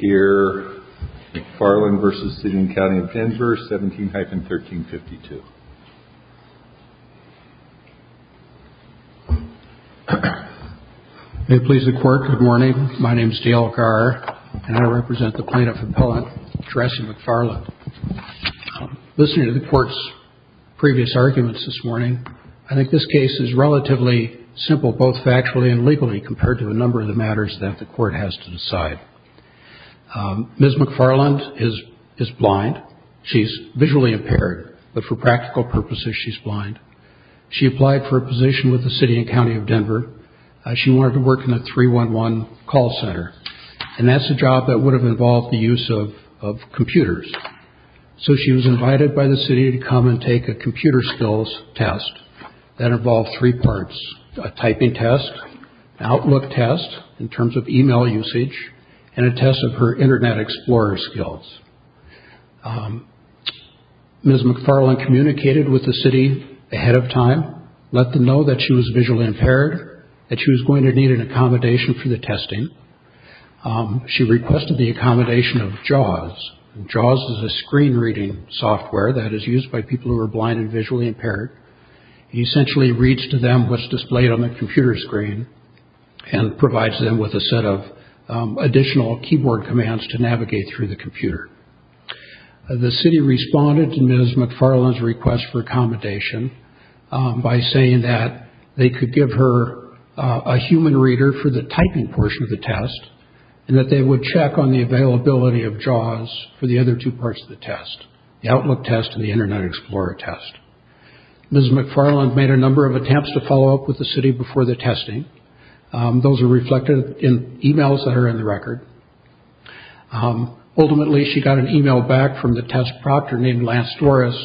17-1352. May it please the Court, good morning. My name is D. L. Garr and I represent the Plaintiff Appellate addressing McFarland. Listening to the Court's previous arguments this morning, I think this case is relatively simple, both factually and legally, compared to a number Ms. McFarland is blind. She's visually impaired, but for practical purposes she's blind. She applied for a position with the City and County of Denver. She wanted to work in a 3-1-1 call center, and that's a job that would have involved the use of computers. So she was invited by the City to come and take a computer skills test that involved three parts, a typing test, an outlook test in terms of email usage, and a test of her internet explorer skills. Ms. McFarland communicated with the City ahead of time, let them know that she was visually impaired, that she was going to need an accommodation for the testing. She requested the accommodation of JAWS. JAWS is a screen reading software that is used by people who are blind and visually impaired. It essentially reads to them what's displayed on the computer screen and provides them with a set of additional keyboard commands to navigate through the computer. The City responded to Ms. McFarland's request for accommodation by saying that they could give her a human reader for the typing portion of the test, and that they would check on the availability of JAWS for the other two parts of the test, the outlook test and the internet explorer test. Ms. McFarland made a number of attempts to follow up with the City before the testing. Those were reflected in emails that are in the record. Ultimately, she got an email back from the test proctor named Lance Dorris,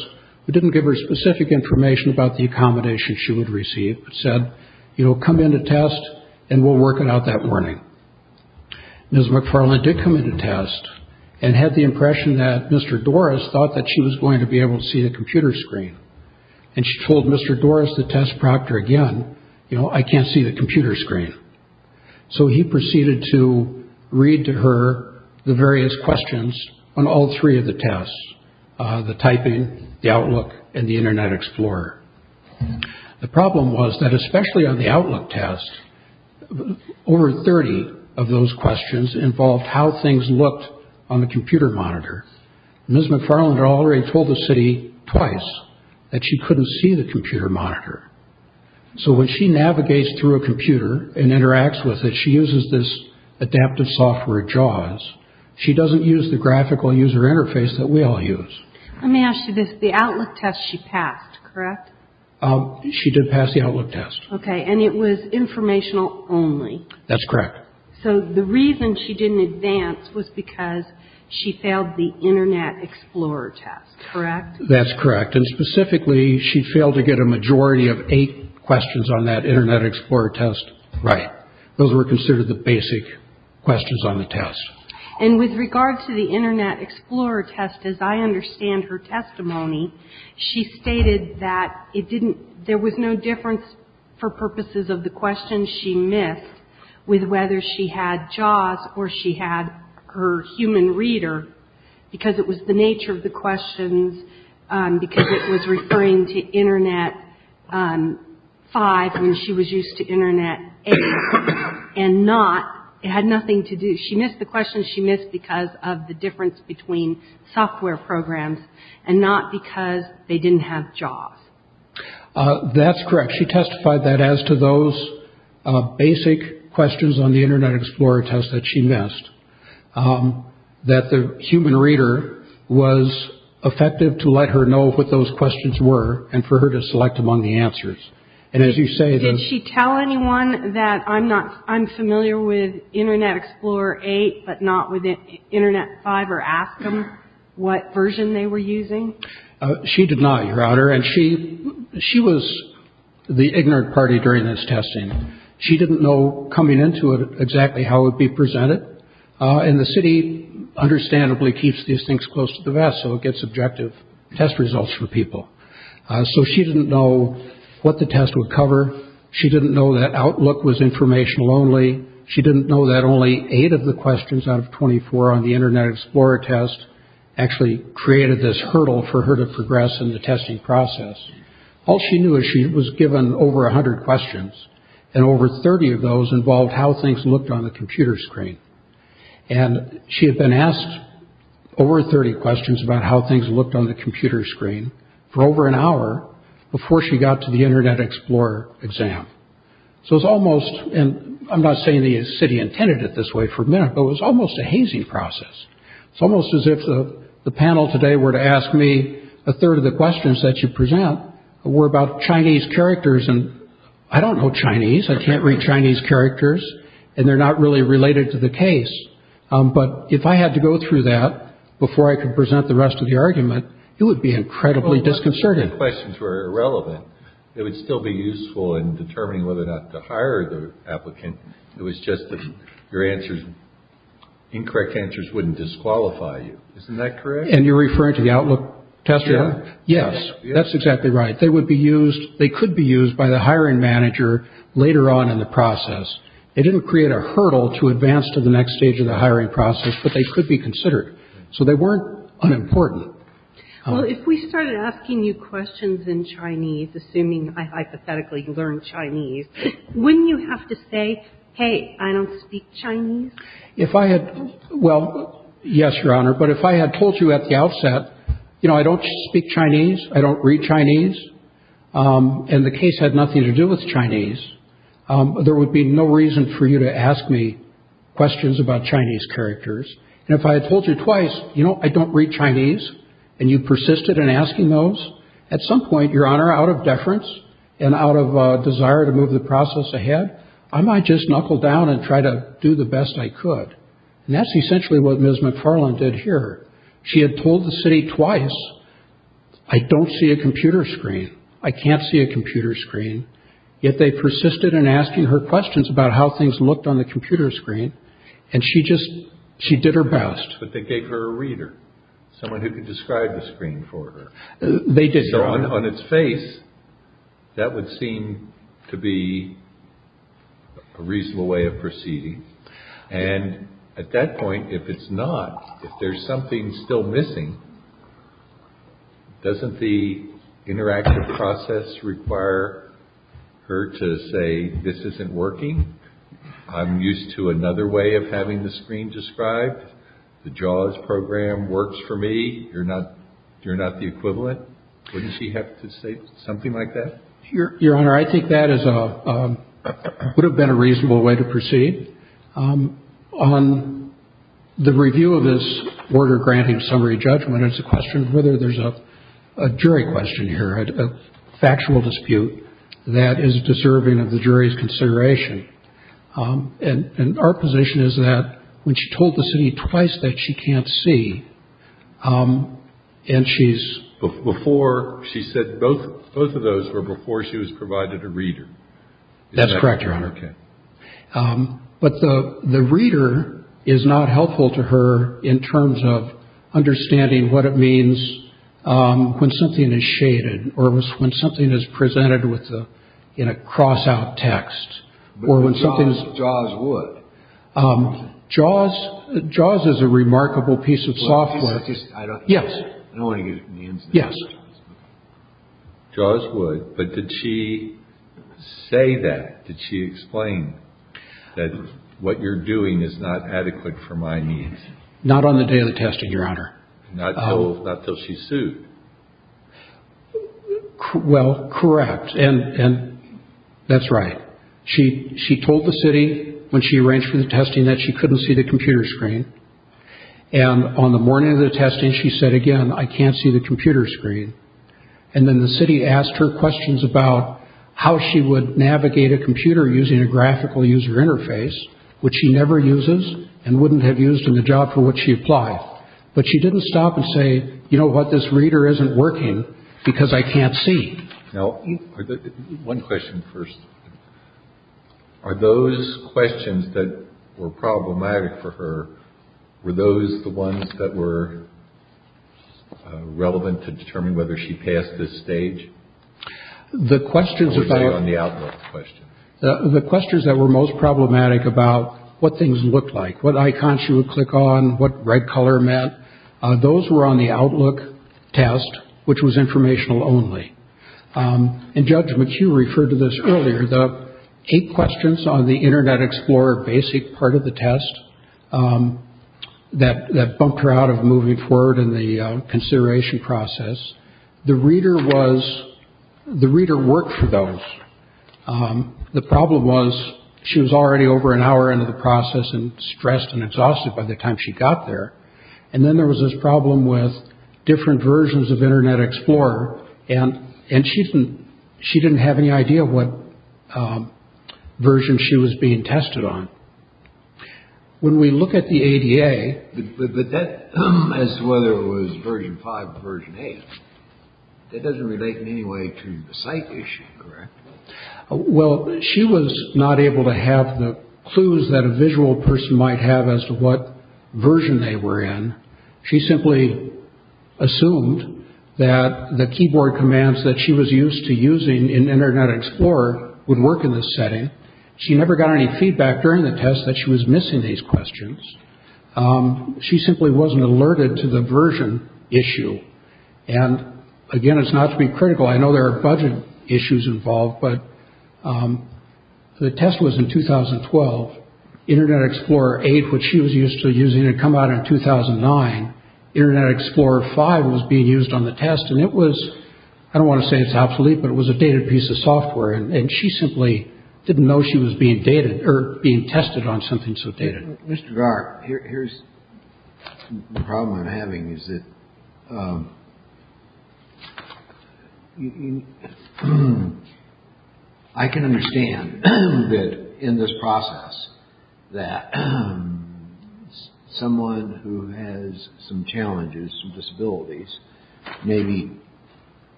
who didn't give her specific information about the accommodation she would receive, but said, you know, come in to test and we'll work it out that morning. Ms. McFarland did come in to test and had the impression that Mr. Dorris thought that she was going to be able to see the computer screen. And she told Mr. Dorris, the test proctor again, you know, I can't see the computer screen. So he proceeded to read to her the various questions on all three of the tests, the typing, the outlook, and the internet explorer. The problem was that especially on the outlook test, over 30 of those questions involved how things looked on the computer monitor. Ms. McFarland had already told the City twice that she couldn't see the computer monitor. So when she navigates through a computer and interacts with it, she uses this adaptive software JAWS. She doesn't use the graphical user interface that we all use. Let me ask you this. The outlook test she passed, correct? She did pass the outlook test. Okay. And it was informational only? That's correct. So the reason she didn't advance was because she failed the internet explorer test, correct? That's correct. And specifically, she failed to get a majority of eight questions on that internet explorer test right. Those were considered the basic questions on the test. And with regards to the internet explorer test, as I understand her testimony, she stated that it didn't, there was no difference for purposes of the questions she missed with whether she had JAWS or she had her human reader because it was the nature of the questions because it was referring to internet five and she was used to internet eight and not, it had nothing to do, she missed the questions she missed because of the difference between software programs and not because they didn't have JAWS. That's correct. She testified that as to those basic questions on the internet explorer test that she missed, that the human reader was effective to let her know what those questions were and for her to select among the answers. And as you say, Did she tell anyone that I'm not, I'm familiar with internet explorer eight but not with internet five or ask them what version they were using? She did not, Your Honor. And she, she was the ignorant party during this testing. She didn't know coming into it exactly how it would be presented. And the city understandably keeps these things close to the vest so it gets objective test results for people. So she didn't know what the test would cover. She didn't know that Outlook was informational only. She didn't know that only eight of the questions out of 24 on the internet explorer test actually created this hurdle for her to progress in the testing process. All she knew is she was given over 100 questions and over 30 of those involved how things looked on the computer screen. And she had been asked over 30 questions about how things looked on the computer screen for over an hour before she got to the Internet Explorer exam. So it's almost and I'm not saying the city intended it this way for a minute, but it was almost a hazing process. It's almost as if the panel today were to ask me a third of the questions that you present were about Chinese characters. And I don't know Chinese. I can't read Chinese characters and they're not really related to the case. But if I had to go through that before I could present the rest of the argument, it would be incredibly disconcerting. The questions were irrelevant. It would still be useful in determining whether or not to hire the applicant. It was just that your answers, incorrect answers wouldn't disqualify you. Isn't that correct? And you're referring to the Outlook test? Yes, that's exactly right. They would be used. They could be used by the hiring manager later on in the process. It didn't create a hurdle to advance to the next stage of the hiring process, but they could be considered. So they weren't unimportant. Well, if we started asking you questions in Chinese, assuming I hypothetically learned Chinese, wouldn't you have to say, hey, I don't speak Chinese? If I had. Well, yes, Your Honor. But if I had told you at the outset, you know, I don't speak Chinese, I don't read Chinese. And the case had nothing to do with Chinese. There would be no reason for you to ask me questions about Chinese characters. And if I had told you twice, you know, I don't read Chinese. And you persisted in asking those. At some point, Your Honor, out of deference and out of desire to move the process ahead, I might just knuckle down and try to do the best I could. And that's essentially what Ms. McFarland did here. She had told the city twice, I don't see a computer screen. I can't see a computer screen. Yet they persisted in asking her questions about how things looked on the computer screen. And she just she did her best. But they gave her a reader, someone who could describe the screen for her. They did, Your Honor. So on its face, that would seem to be a reasonable way of proceeding. And at that point, if it's not, if there's something still missing, doesn't the interactive process require her to say this isn't working? I'm used to another way of having the screen described. The JAWS program works for me. You're not you're not the equivalent. Wouldn't she have to say something like that? Your Honor, I think that is a would have been a reasonable way to proceed on the review of this order granting summary judgment. It's a question of whether there's a jury question here, a factual dispute that is deserving of the jury's consideration. And our position is that when she told the city twice that she can't see and she's before, she said both both of those were before she was provided a reader. That's correct, Your Honor. But the the reader is not helpful to her in terms of understanding what it means when something is shaded or when something is presented with a cross out text or when something is JAWS would JAWS JAWS is a remarkable piece of software. Yes. Yes. JAWS would. But did she say that? Did she explain that what you're doing is not adequate for my needs? Not on the day of the testing, Your Honor. Not until she sued. Well, correct. And that's right. She she told the city when she arranged for the testing that she couldn't see the computer screen. And on the morning of the testing, she said again, I can't see the computer screen. And then the city asked her questions about how she would navigate a computer using a graphical user interface, which she never uses and wouldn't have used in the job for what she applied. But she didn't stop and say, you know what, this reader isn't working because I can't see. Now, one question first. Are those questions that were problematic for her? Were those the ones that were relevant to determine whether she passed this stage? The questions about the outlook question, the questions that were most problematic about what things looked like, what icons you would click on, what red color meant. Those were on the outlook test, which was informational only. And Judge McHugh referred to this earlier, the eight questions on the Internet Explorer, basic part of the test that that bumped her out of moving forward in the consideration process. The reader was the reader worked for those. The problem was she was already over an hour into the process and stressed and exhausted by the time she got there. And then there was this problem with different versions of Internet Explorer. And and she didn't she didn't have any idea what version she was being tested on. When we look at the A.D.A. as whether it was version five, version eight, it doesn't relate in any way to the site issue. Well, she was not able to have the clues that a visual person might have as to what version they were in. She simply assumed that the keyboard commands that she was used to using in Internet Explorer would work in this setting. She never got any feedback during the test that she was missing these questions. She simply wasn't alerted to the version issue. And again, it's not to be critical. I know there are budget issues involved, but the test was in 2012 Internet Explorer eight, which she was used to using to come out in 2009. Internet Explorer five was being used on the test. And it was I don't want to say it's obsolete, but it was a dated piece of software. And she simply didn't know she was being dated or being tested on something so dated.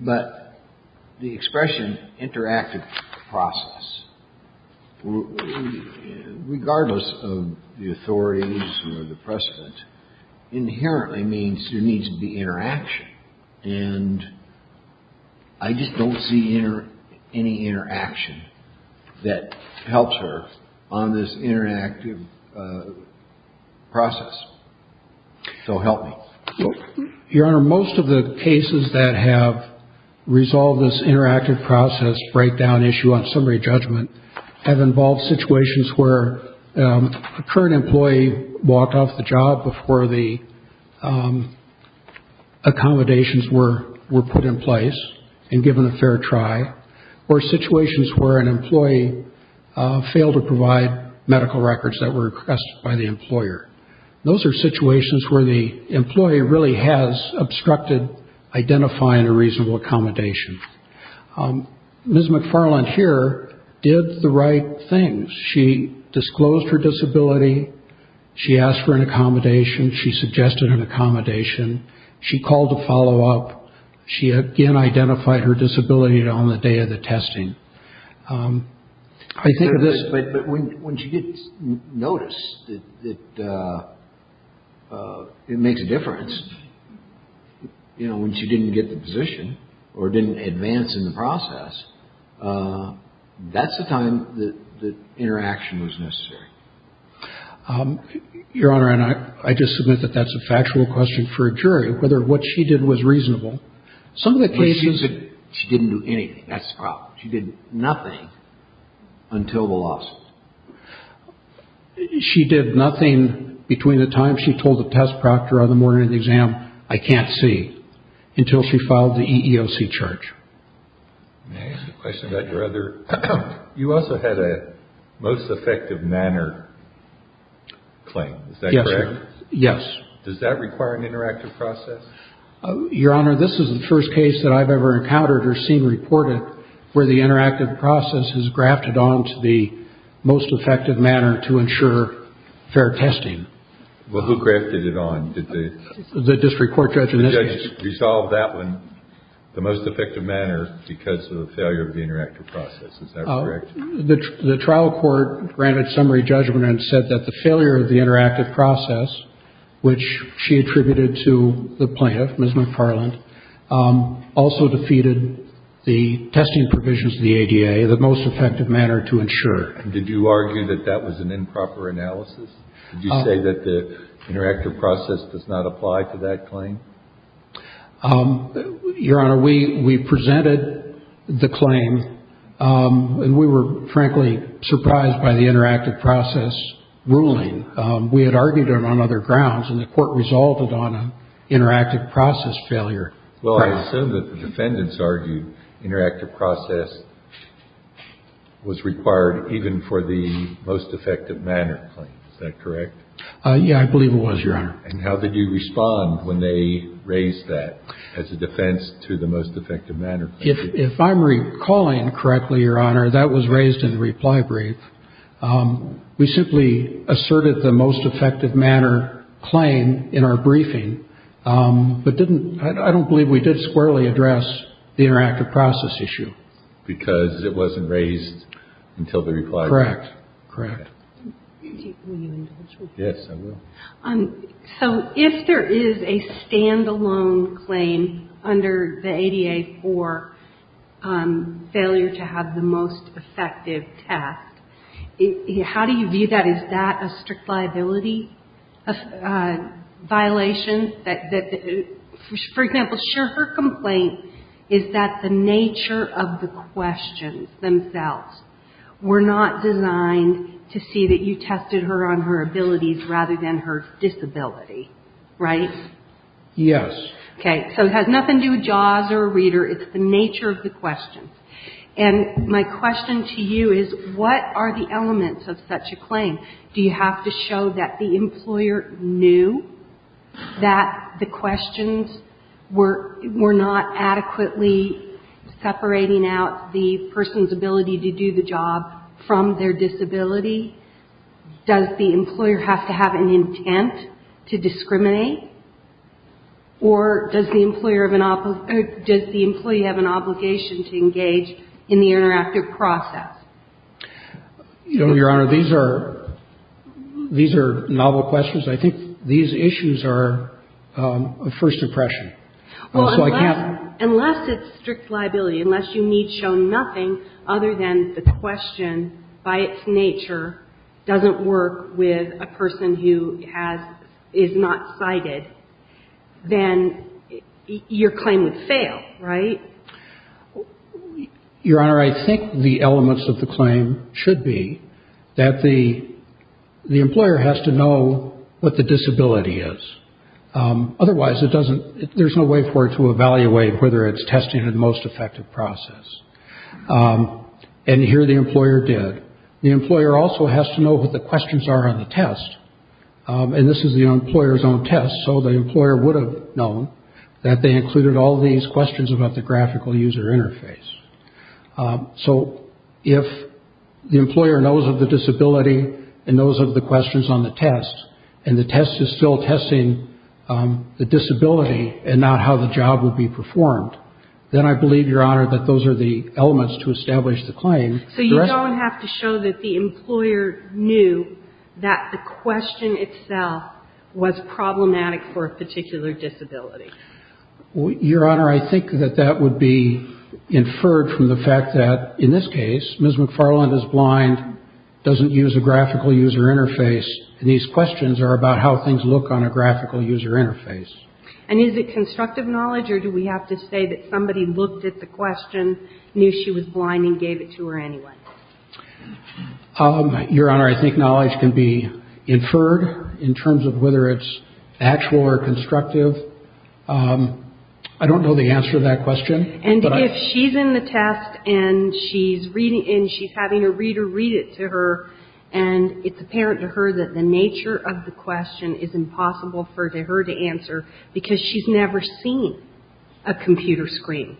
But the expression interactive process, regardless of the authorities or the precedent, inherently means there needs to be interaction. And I just don't see any interaction that helps her on this interactive process. So help me. Your Honor, most of the cases that have resolved this interactive process, breakdown issue on summary judgment, have involved situations where a current employee walked off the job before the accommodations were put in place and given a fair try, or situations where an employee failed to provide medical records that were requested by the employer. Those are situations where the employee really has obstructed identifying a reasonable accommodation. Ms. McFarland here did the right thing. She disclosed her disability. She asked for an accommodation. She suggested an accommodation. She called to follow up. She again identified her disability on the day of the testing. But when she did notice that it makes a difference, you know, when she didn't get the position or didn't advance in the process, that's the time that interaction was necessary. Your Honor, and I just submit that that's a factual question for a jury, whether what she did was reasonable. Some of the cases that she didn't do anything. That's the problem. She did nothing until the lawsuit. She did nothing between the time she told the test proctor on the morning of the exam, I can't see, until she filed the EEOC charge. May I ask a question about your other? You also had a most effective manner claim. Is that correct? Yes. Does that require an interactive process? Your Honor, this is the first case that I've ever encountered or seen reported where the interactive process is grafted onto the most effective manner to ensure fair testing. Well, who grafted it on? The district court judge in this case. The judge resolved that one, the most effective manner, because of the failure of the interactive process. Is that correct? The trial court granted summary judgment and said that the failure of the interactive process, which she attributed to the plaintiff, Ms. McFarland, also defeated the testing provisions of the ADA, the most effective manner to ensure. Did you argue that that was an improper analysis? Did you say that the interactive process does not apply to that claim? Your Honor, we presented the claim, and we were, frankly, surprised by the interactive process ruling. We had argued it on other grounds, and the court resolved it on an interactive process failure. Well, I assume that the defendants argued interactive process was required even for the most effective manner claim. Is that correct? Yes, I believe it was, Your Honor. And how did you respond when they raised that as a defense to the most effective manner claim? If I'm recalling correctly, Your Honor, that was raised in the reply brief. We simply asserted the most effective manner claim in our briefing, but I don't believe we did squarely address the interactive process issue. Because it wasn't raised until the reply brief. Correct. Correct. Will you indulge me? Yes, I will. So if there is a stand-alone claim under the ADA for failure to have the most effective test, how do you view that? Is that a strict liability violation? For example, sure, her complaint is that the nature of the questions themselves were not designed to see that you tested her on her abilities rather than her disability. Right? Yes. Okay. So it has nothing to do with JAWS or Reader. It's the nature of the questions. And my question to you is, what are the elements of such a claim? Do you have to show that the employer knew that the questions were not adequately separating out the person's ability to do the job from their disability? Does the employer have to have an intent to discriminate? Or does the employee have an obligation to engage in the interactive process? Your Honor, these are novel questions. I think these issues are a first impression. Unless it's strict liability, unless you need to show nothing other than the question by its nature doesn't work with a person who is not sighted, then your claim would fail. Right? Your Honor, I think the elements of the claim should be that the employer has to know what the disability is. Otherwise, there's no way for it to evaluate whether it's testing the most effective process. And here the employer did. The employer also has to know what the questions are on the test. And this is the employer's own test, so the employer would have known that they included all these questions about the graphical user interface. So if the employer knows of the disability and knows of the questions on the test, and the test is still testing the disability and not how the job will be performed, then I believe, Your Honor, that those are the elements to establish the claim. So you don't have to show that the employer knew that the question itself was problematic for a particular disability. Your Honor, I think that that would be inferred from the fact that, in this case, Ms. McFarland is blind, doesn't use a graphical user interface, and these questions are about how things look on a graphical user interface. And is it constructive knowledge, or do we have to say that somebody looked at the question, knew she was blind, and gave it to her anyway? Your Honor, I think knowledge can be inferred in terms of whether it's actual or constructive. I don't know the answer to that question. And if she's in the test and she's reading, and she's having a reader read it to her, and it's apparent to her that the nature of the question is impossible for her to answer because she's never seen a computer screen,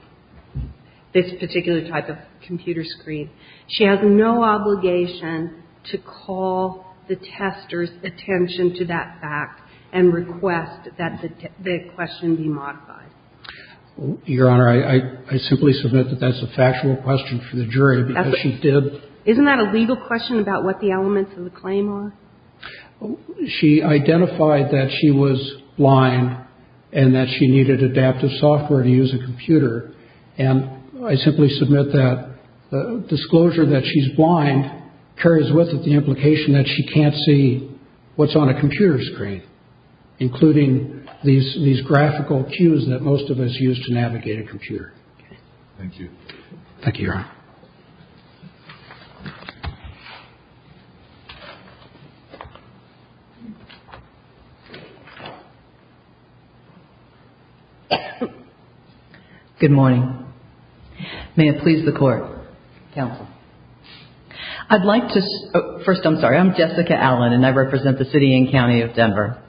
this particular type of computer screen, she has no obligation to call the tester's attention to that fact and request that the question be modified. Your Honor, I simply submit that that's a factual question for the jury because she did... Isn't that a legal question about what the elements of the claim are? She identified that she was blind and that she needed adaptive software to use a computer, and I simply submit that the disclosure that she's blind carries with it the implication that she can't see what's on a computer screen, including these graphical cues that most of us use to navigate a computer. Thank you. Thank you, Your Honor. Good morning. May it please the Court. Counsel. I'd like to... First, I'm sorry. I'm Jessica Allen, and I represent the city and county of Denver.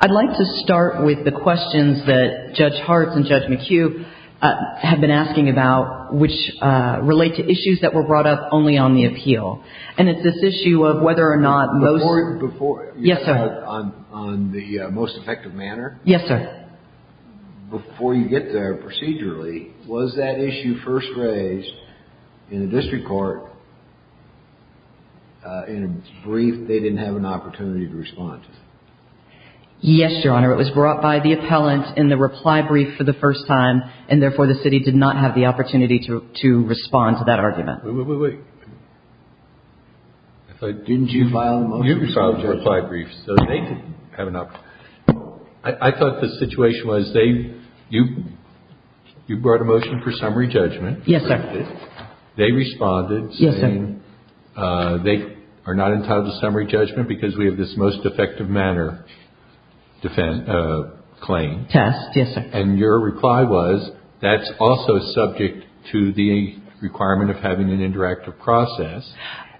I'd like to start with the questions that Judge Hartz and Judge McHugh have been asking about, which relate to issues that were brought up only on the appeal. And it's this issue of whether or not most... Before... Yes, sir. On the most effective manner? Yes, sir. Before you get there, procedurally, was that issue first raised in the district court in a brief they didn't have an opportunity to respond to? Yes, Your Honor. It was brought by the appellant in the reply brief for the first time, and therefore the city did not have the opportunity to respond to that argument. Wait, wait, wait. Didn't you file the most... You filed the reply brief, so they could have an opportunity. I thought the situation was they... You brought a motion for summary judgment. Yes, sir. They responded saying... Yes, sir. ...they are not entitled to summary judgment because we have this most effective manner claim. Test, yes, sir. And your reply was, that's also subject to the requirement of having an interactive process.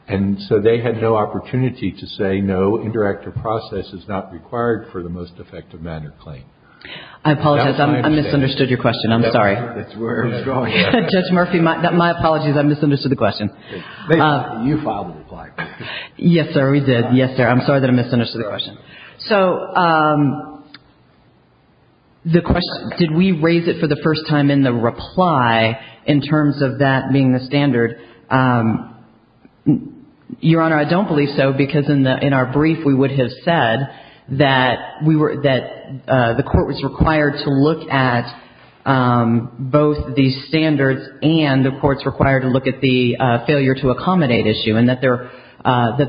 And so they had no opportunity to say, no, interactive process is not required for the most effective manner claim. I apologize. I misunderstood your question. I'm sorry. That's where it's going. Judge Murphy, my apologies. I misunderstood the question. You filed the reply brief. Yes, sir. We did. Yes, sir. I'm sorry that I misunderstood the question. So the question, did we raise it for the first time in the reply in terms of that being the standard? Your Honor, I don't believe so, because in our brief we would have said that the court was required to look at both the standards and the courts required to look at the failure to accommodate issue and that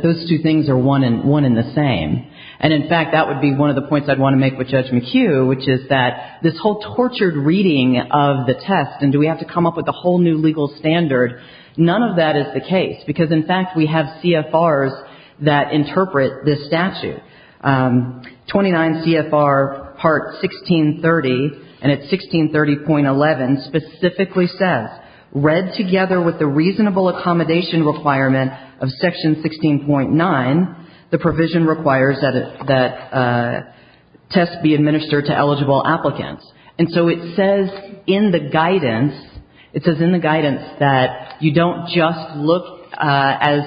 those two things are one and the same. And, in fact, that would be one of the points I'd want to make with Judge McHugh, which is that this whole tortured reading of the test and do we have to come up with a whole new legal standard, none of that is the case because, in fact, we have CFRs that interpret this statute. 29 CFR Part 1630, and it's 1630.11, specifically says, read together with the reasonable accommodation requirement of Section 16.9, the provision requires that tests be administered to eligible applicants. And so it says in the guidance, it says in the guidance that you don't just look, as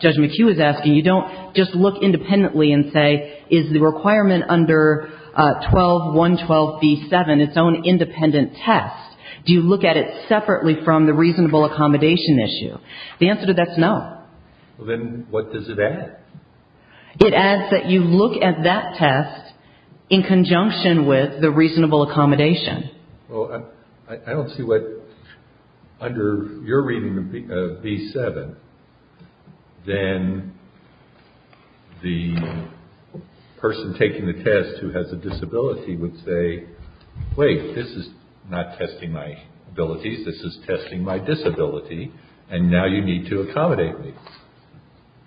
Judge McHugh is asking, you don't just look independently and say, is the requirement under 12.112b7, its own independent test, do you look at it separately from the reasonable accommodation issue? The answer to that is no. Well, then what does it add? It adds that you look at that test in conjunction with the reasonable accommodation. Well, I don't see what, under your reading of b7, then the person taking the test who has a disability would say, wait, this is not testing my abilities, this is testing my disability, and now you need to accommodate me.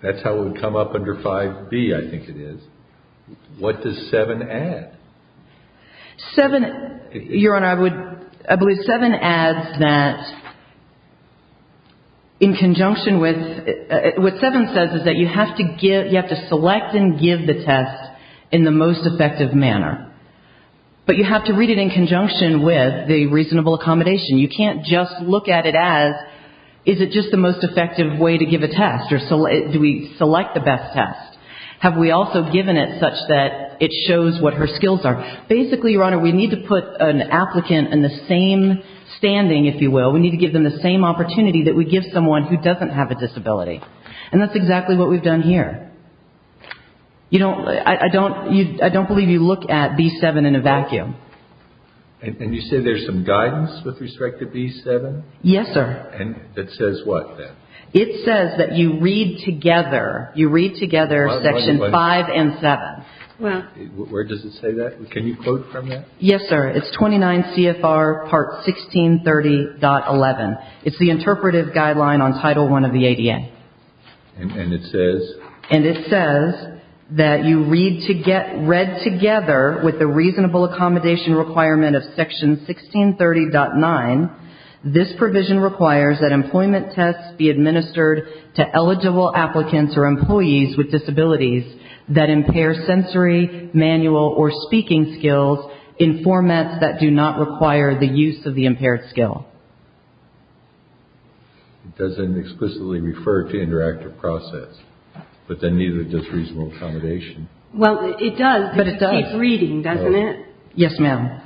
That's how it would come up under 5b, I think it is. What does 7 add? 7, Your Honor, I believe 7 adds that in conjunction with, what 7 says is that you have to select and give the test in the most effective manner. But you have to read it in conjunction with the reasonable accommodation. You can't just look at it as, is it just the most effective way to give a test, or do we select the best test? Have we also given it such that it shows what her skills are? Basically, Your Honor, we need to put an applicant in the same standing, if you will, we need to give them the same opportunity that we give someone who doesn't have a disability. And that's exactly what we've done here. I don't believe you look at b7 in a vacuum. And you say there's some guidance with respect to b7? Yes, sir. And it says what, then? It says that you read together, you read together section 5 and 7. Where does it say that? Can you quote from that? Yes, sir. It's 29 CFR part 1630.11. It's the interpretive guideline on Title I of the ADA. And it says? And it says that you read together with the reasonable accommodation requirement of section 1630.9. This provision requires that employment tests be administered to eligible applicants or employees with disabilities that impair sensory, manual, or speaking skills in formats that do not require the use of the impaired skill. It doesn't explicitly refer to interactive process. But then neither does reasonable accommodation. Well, it does. But it does. It keeps reading, doesn't it? Yes, ma'am.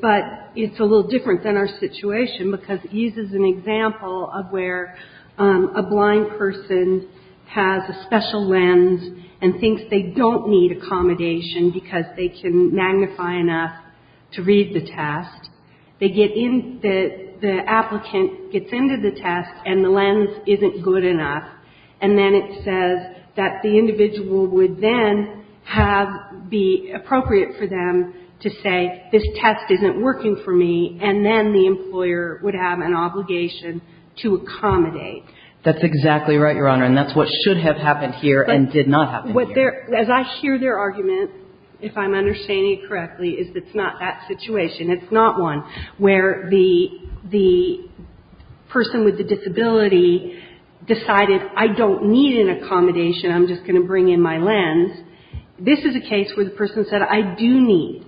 But it's a little different than our situation because it uses an example of where a blind person has a special lens and thinks they don't need accommodation because they can magnify enough to read the test. The applicant gets into the test and the lens isn't good enough. And then it says that the individual would then have be appropriate for them to say this test isn't working for me and then the employer would have an obligation to accommodate. That's exactly right, Your Honor. And that's what should have happened here and did not happen here. As I hear their argument, if I'm understanding it correctly, is it's not that situation. It's not one where the person with the disability decided I don't need an accommodation. I'm just going to bring in my lens. This is a case where the person said I do need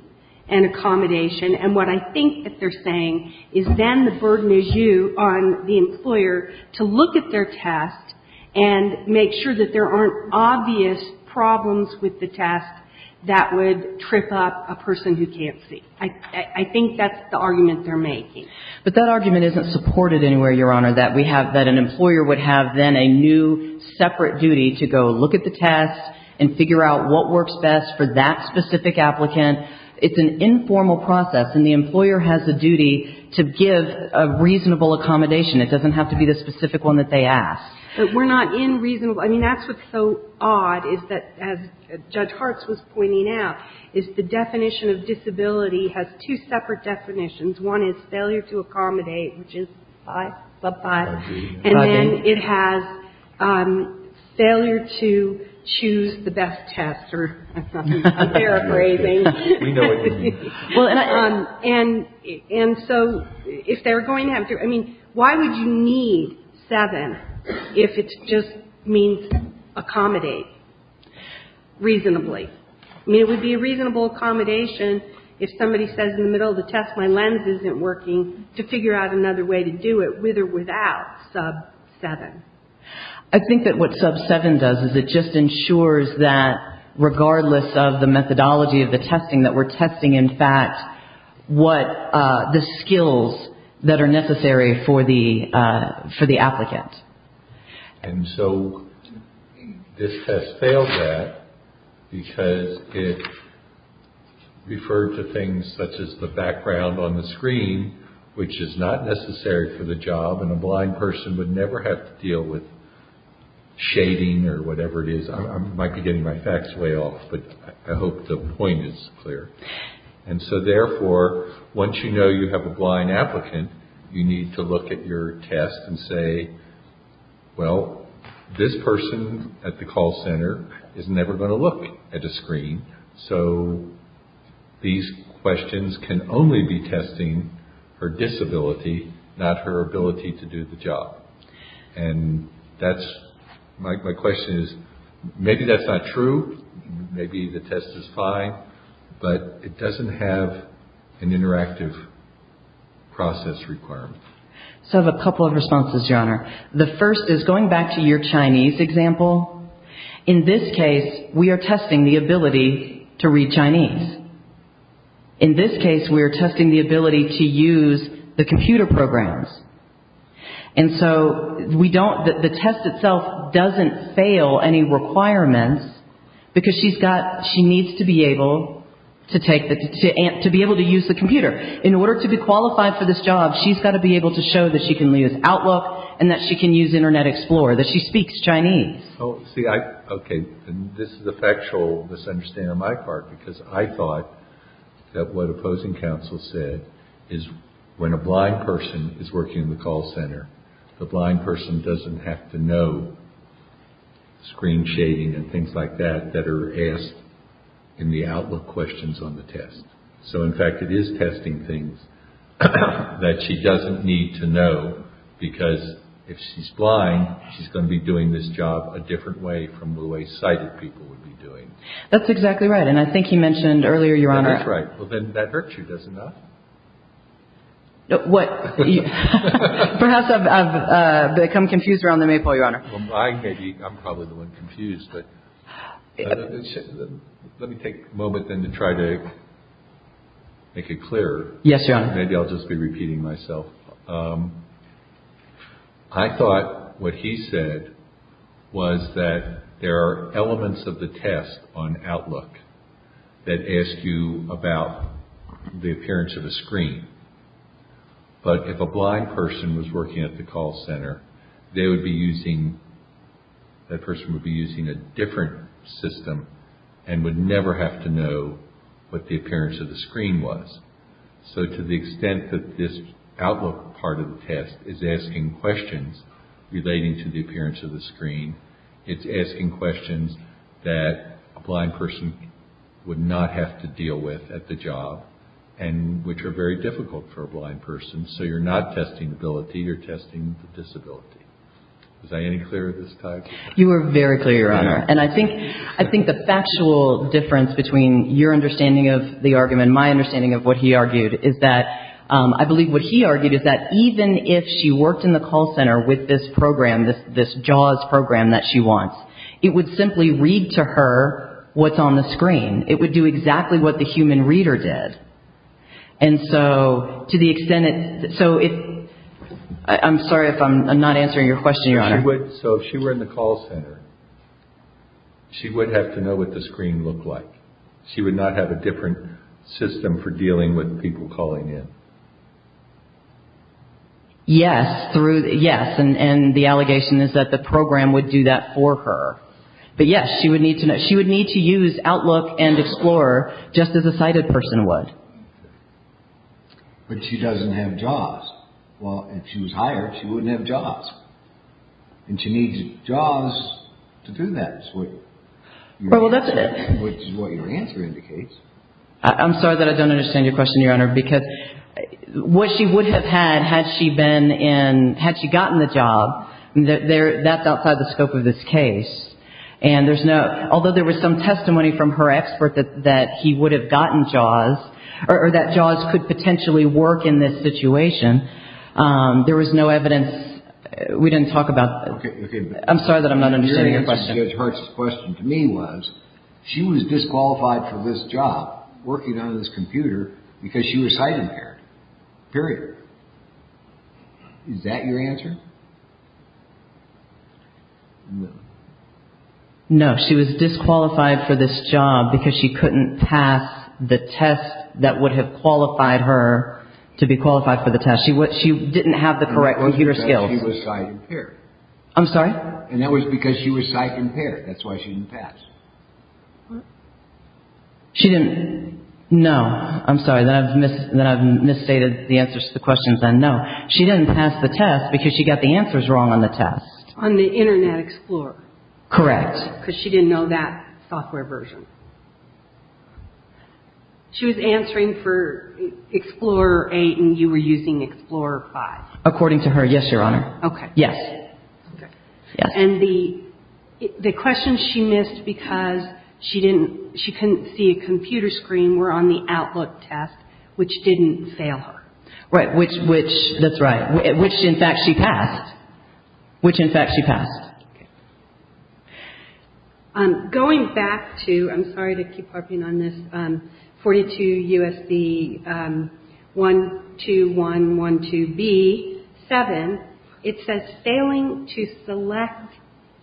an accommodation. And what I think that they're saying is then the burden is you on the employer to look at their test and make sure that there aren't obvious problems with the test that would trip up a person who can't see. I think that's the argument they're making. But that argument isn't supported anywhere, Your Honor, that we have that an employer would have then a new separate duty to go look at the test and figure out what works best for that specific applicant. It's an informal process and the employer has a duty to give a reasonable accommodation. It doesn't have to be the specific one that they ask. But we're not in reasonable. I mean, that's what's so odd is that, as Judge Hartz was pointing out, is the definition of disability has two separate definitions. One is failure to accommodate, which is 5, sub 5. And then it has failure to choose the best test or a fair appraising. We know what you mean. And so if they're going to have to, I mean, why would you need 7 if it just means accommodate reasonably? I mean, it would be a reasonable accommodation if somebody says in the middle of the test, my lens isn't working, to figure out another way to do it with or without sub 7. I think that what sub 7 does is it just ensures that, what the skills that are necessary for the applicant. And so this test failed that because it referred to things such as the background on the screen, which is not necessary for the job and a blind person would never have to deal with shading or whatever it is. I might be getting my facts way off, but I hope the point is clear. And so therefore, once you know you have a blind applicant, you need to look at your test and say, well, this person at the call center is never going to look at a screen. So these questions can only be testing her disability, not her ability to do the job. And that's my question is, maybe that's not true. Maybe the test is fine, but it doesn't have an interactive process requirement. So I have a couple of responses, Your Honor. The first is going back to your Chinese example. In this case, we are testing the ability to read Chinese. In this case, we are testing the ability to use the computer programs. And so we don't, the test itself doesn't fail any requirements because she's got, she needs to be able to take the, to be able to use the computer. In order to be qualified for this job, she's got to be able to show that she can use Outlook and that she can use Internet Explorer, that she speaks Chinese. See, I, okay, this is a factual misunderstanding on my part because I thought that what opposing counsel said is when a blind person is working in the call center, the blind person doesn't have to know screen shading and things like that, that are asked in the Outlook questions on the test. So in fact, it is testing things that she doesn't need to know because if she's blind, she's going to be doing this job a different way from the way sighted people would be doing. That's exactly right. And I think you mentioned earlier, Your Honor. That's right. Well, then that virtue does enough. What? Perhaps I've become confused around the maypole, Your Honor. I may be, I'm probably the one confused, but let me take a moment then to try to make it clearer. Yes, Your Honor. Maybe I'll just be repeating myself. I thought what he said was that there are elements of the test on Outlook that ask you about the appearance of a screen. But if a blind person was working at the call center, they would be using, that person would be using a different system and would never have to know what the appearance of the screen was. So to the extent that this Outlook part of the test is asking questions relating to the appearance of the screen, it's asking questions that a blind person would not have to deal with at the job and which are very difficult for a blind person. So you're not testing ability, you're testing the disability. Was I any clearer this time? You were very clear, Your Honor. And I think the factual difference between your understanding of the argument and my understanding of what he argued is that, I believe what he argued is that even if she worked in the call center with this program, this JAWS program that she wants, it would simply read to her what's on the screen. It would do exactly what the human reader did. And so to the extent that, so if, I'm sorry if I'm not answering your question, Your Honor. So if she were in the call center, she would have to know what the screen looked like. She would not have a different system for dealing with people calling in. Yes, and the allegation is that the program would do that for her. But yes, she would need to use Outlook and Explore just as a sighted person would. But she doesn't have JAWS. Well, if she was hired, she wouldn't have JAWS. And she needs JAWS to do that. Well, that's what your answer indicates. I'm sorry that I don't understand your question, Your Honor. Because what she would have had, had she been in, had she gotten the job, that's outside the scope of this case. And there's no, although there was some testimony from her expert that he would have gotten JAWS, or that JAWS could potentially work in this situation, there was no evidence, we didn't talk about. I'm sorry that I'm not understanding your question. Judge Hart's question to me was, she was disqualified for this job, working on this computer, because she was sight impaired. Period. Is that your answer? No, she was disqualified for this job because she couldn't pass the test that would have qualified her to be qualified for the test. She didn't have the correct computer skills. And that was because she was sight impaired. I'm sorry? And that was because she was sight impaired. That's why she didn't pass. She didn't, no. I'm sorry, then I've misstated the answers to the questions then. No. She didn't pass the test because she got the answers wrong on the test. On the Internet Explorer. Correct. Because she didn't know that software version. She was answering for Explorer 8 and you were using Explorer 5. According to her, yes, Your Honor. Okay. Yes. And the questions she missed because she couldn't see a computer screen were on the Outlook test, which didn't fail her. Right, which, that's right, which in fact she passed. Which in fact she passed. Okay. Going back to, I'm sorry to keep harping on this, 42 U.S.C. 12112B, 7, it says failing to select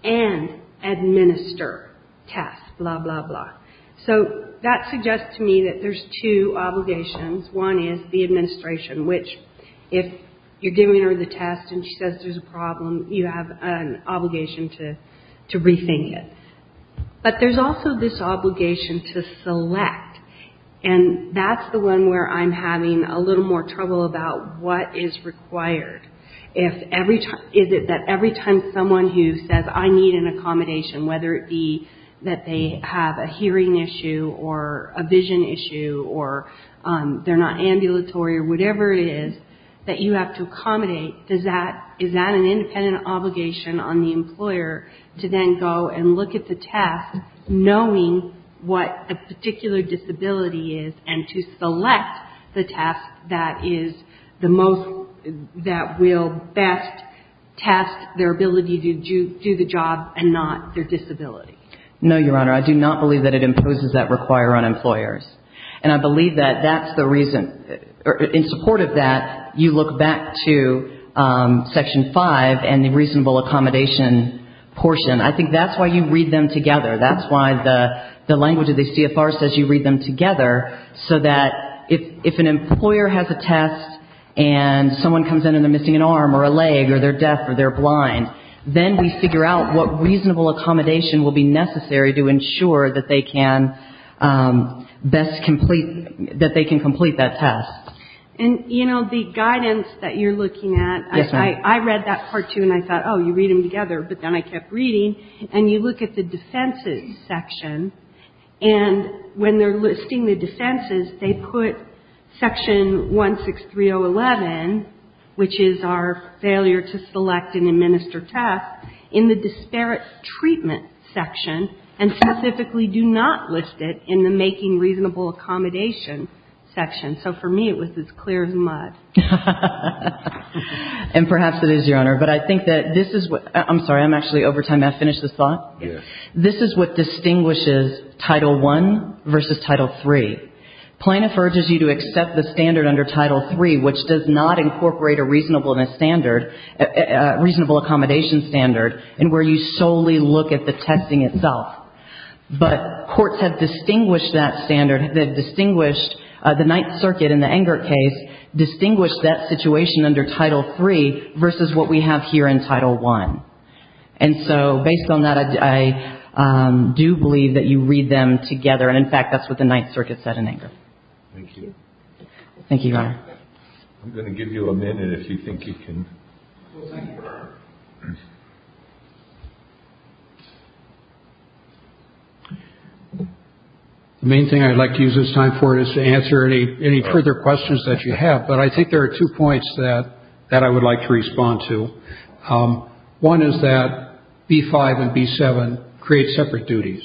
and administer tests, blah, blah, blah. So, that suggests to me that there's two obligations. One is the administration, which if you're giving her the test and she says there's a problem, you have an obligation to rethink it. But there's also this obligation to select. And that's the one where I'm having a little more trouble about what is required. Is it that every time someone who says I need an accommodation, whether it be that they have a hearing issue or a vision issue or they're not ambulatory or whatever it is that you have to accommodate, is that an independent obligation on the employer to then go and look at the test, knowing what the particular disability is, and to select the test that is the most, that will best test their ability to do the job and not their disability? No, Your Honor. I do not believe that it imposes that require on employers. And I believe that that's the reason. In support of that, you look back to Section 5 and the reasonable accommodation portion. I think that's why you read them together. That's why the language of the CFR says you read them together, so that if an employer has a test and someone comes in and they're missing an arm or a leg or they're deaf or they're blind, then we figure out what reasonable accommodation will be necessary to ensure that they can best complete, that they can complete that test. And, you know, the guidance that you're looking at. Yes, ma'am. I read that Part 2 and I thought, oh, you read them together, but then I kept reading. And you look at the defenses section, and when they're listing the defenses, they put Section 163011, which is our failure to select and administer tests, in the disparate treatment section, and specifically do not list it in the making reasonable accommodation section. So for me, it was as clear as mud. And perhaps it is, Your Honor, but I think that this is what – I'm sorry, I'm actually over time. May I finish this thought? Yes. This is what distinguishes Title I versus Title III. Plaintiff urges you to accept the standard under Title III, which does not incorporate a reasonable accommodation standard and where you solely look at the testing itself. But courts have distinguished that standard. They've distinguished the Ninth Circuit in the Engert case, distinguished that situation under Title III versus what we have here in Title I. And so, based on that, I do believe that you read them together. And, in fact, that's what the Ninth Circuit said in Engert. Thank you. Thank you, Your Honor. I'm going to give you a minute if you think you can. Well, thank you, Your Honor. The main thing I'd like to use this time for is to answer any further questions that you have, but I think there are two points that I would like to respond to. One is that B-5 and B-7 create separate duties.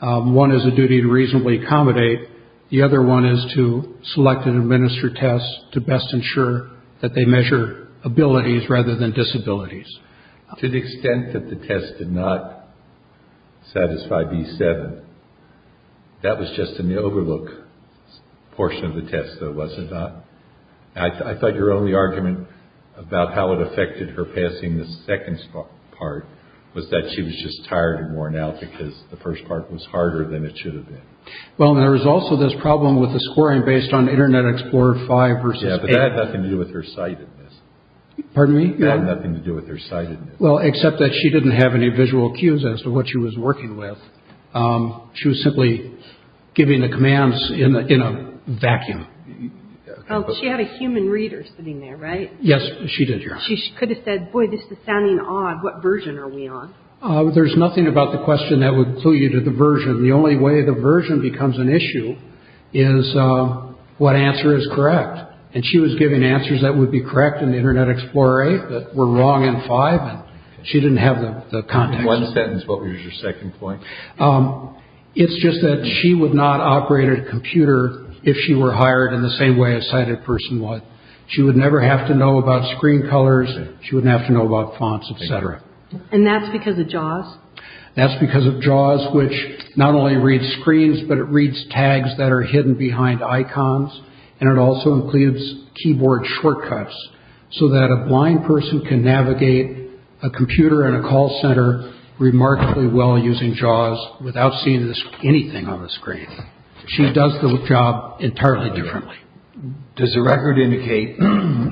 One is a duty to reasonably accommodate. The other one is to select and administer tests to best ensure that they measure abilities rather than disabilities. To the extent that the test did not satisfy B-7, that was just in the overlook portion of the test, though, was it not? I thought your only argument about how it affected her passing the second part was that she was just tired and worn out because the first part was harder than it should have been. Well, there was also this problem with the scoring based on Internet Explorer 5 versus 8. Yeah, but that had nothing to do with her sightedness. Pardon me? That had nothing to do with her sightedness. Well, except that she didn't have any visual cues as to what she was working with. She was simply giving the commands in a vacuum. She had a human reader sitting there, right? Yes, she did, Your Honor. She could have said, boy, this is sounding odd. What version are we on? There's nothing about the question that would clue you to the version. The only way the version becomes an issue is what answer is correct. And she was giving answers that would be correct in the Internet Explorer 8 that were wrong in 5. She didn't have the context. In one sentence, what was your second point? It's just that she would not operate a computer if she were hired in the same way a sighted person would. She would never have to know about screen colors. She wouldn't have to know about fonts, et cetera. And that's because of JAWS? That's because of JAWS, which not only reads screens, but it reads tags that are hidden behind icons. And it also includes keyboard shortcuts so that a blind person can navigate a computer in a call center remarkably well using JAWS without seeing anything on the screen. She does the job entirely differently. Does the record indicate when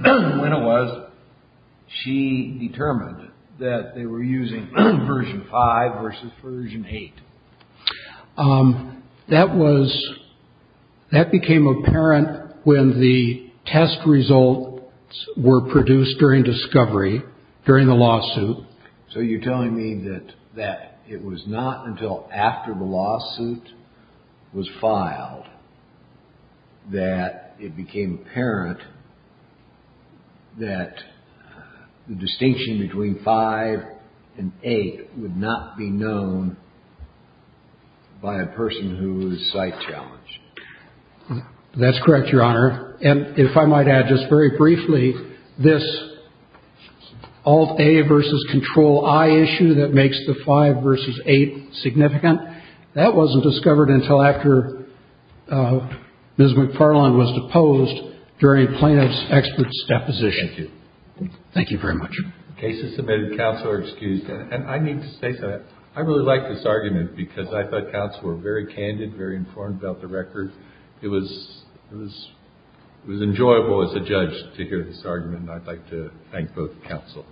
it was she determined that they were using version 5 versus version 8? That became apparent when the test results were produced during discovery, during the lawsuit. So you're telling me that it was not until after the lawsuit was filed that it became apparent that the distinction between 5 and 8 would not be known by a person who was sight challenged? That's correct, Your Honor. And if I might add just very briefly, this Alt-A versus Control-I issue that makes the 5 versus 8 significant, that wasn't discovered until after Ms. McFarland was deposed during a plaintiff's expert's deposition. Thank you. Thank you very much. The case is submitted. Counsel are excused. And I need to say something. I really like this argument because I thought counsel were very candid, very informed about the record. It was enjoyable as a judge to hear this argument, and I'd like to thank both counsel.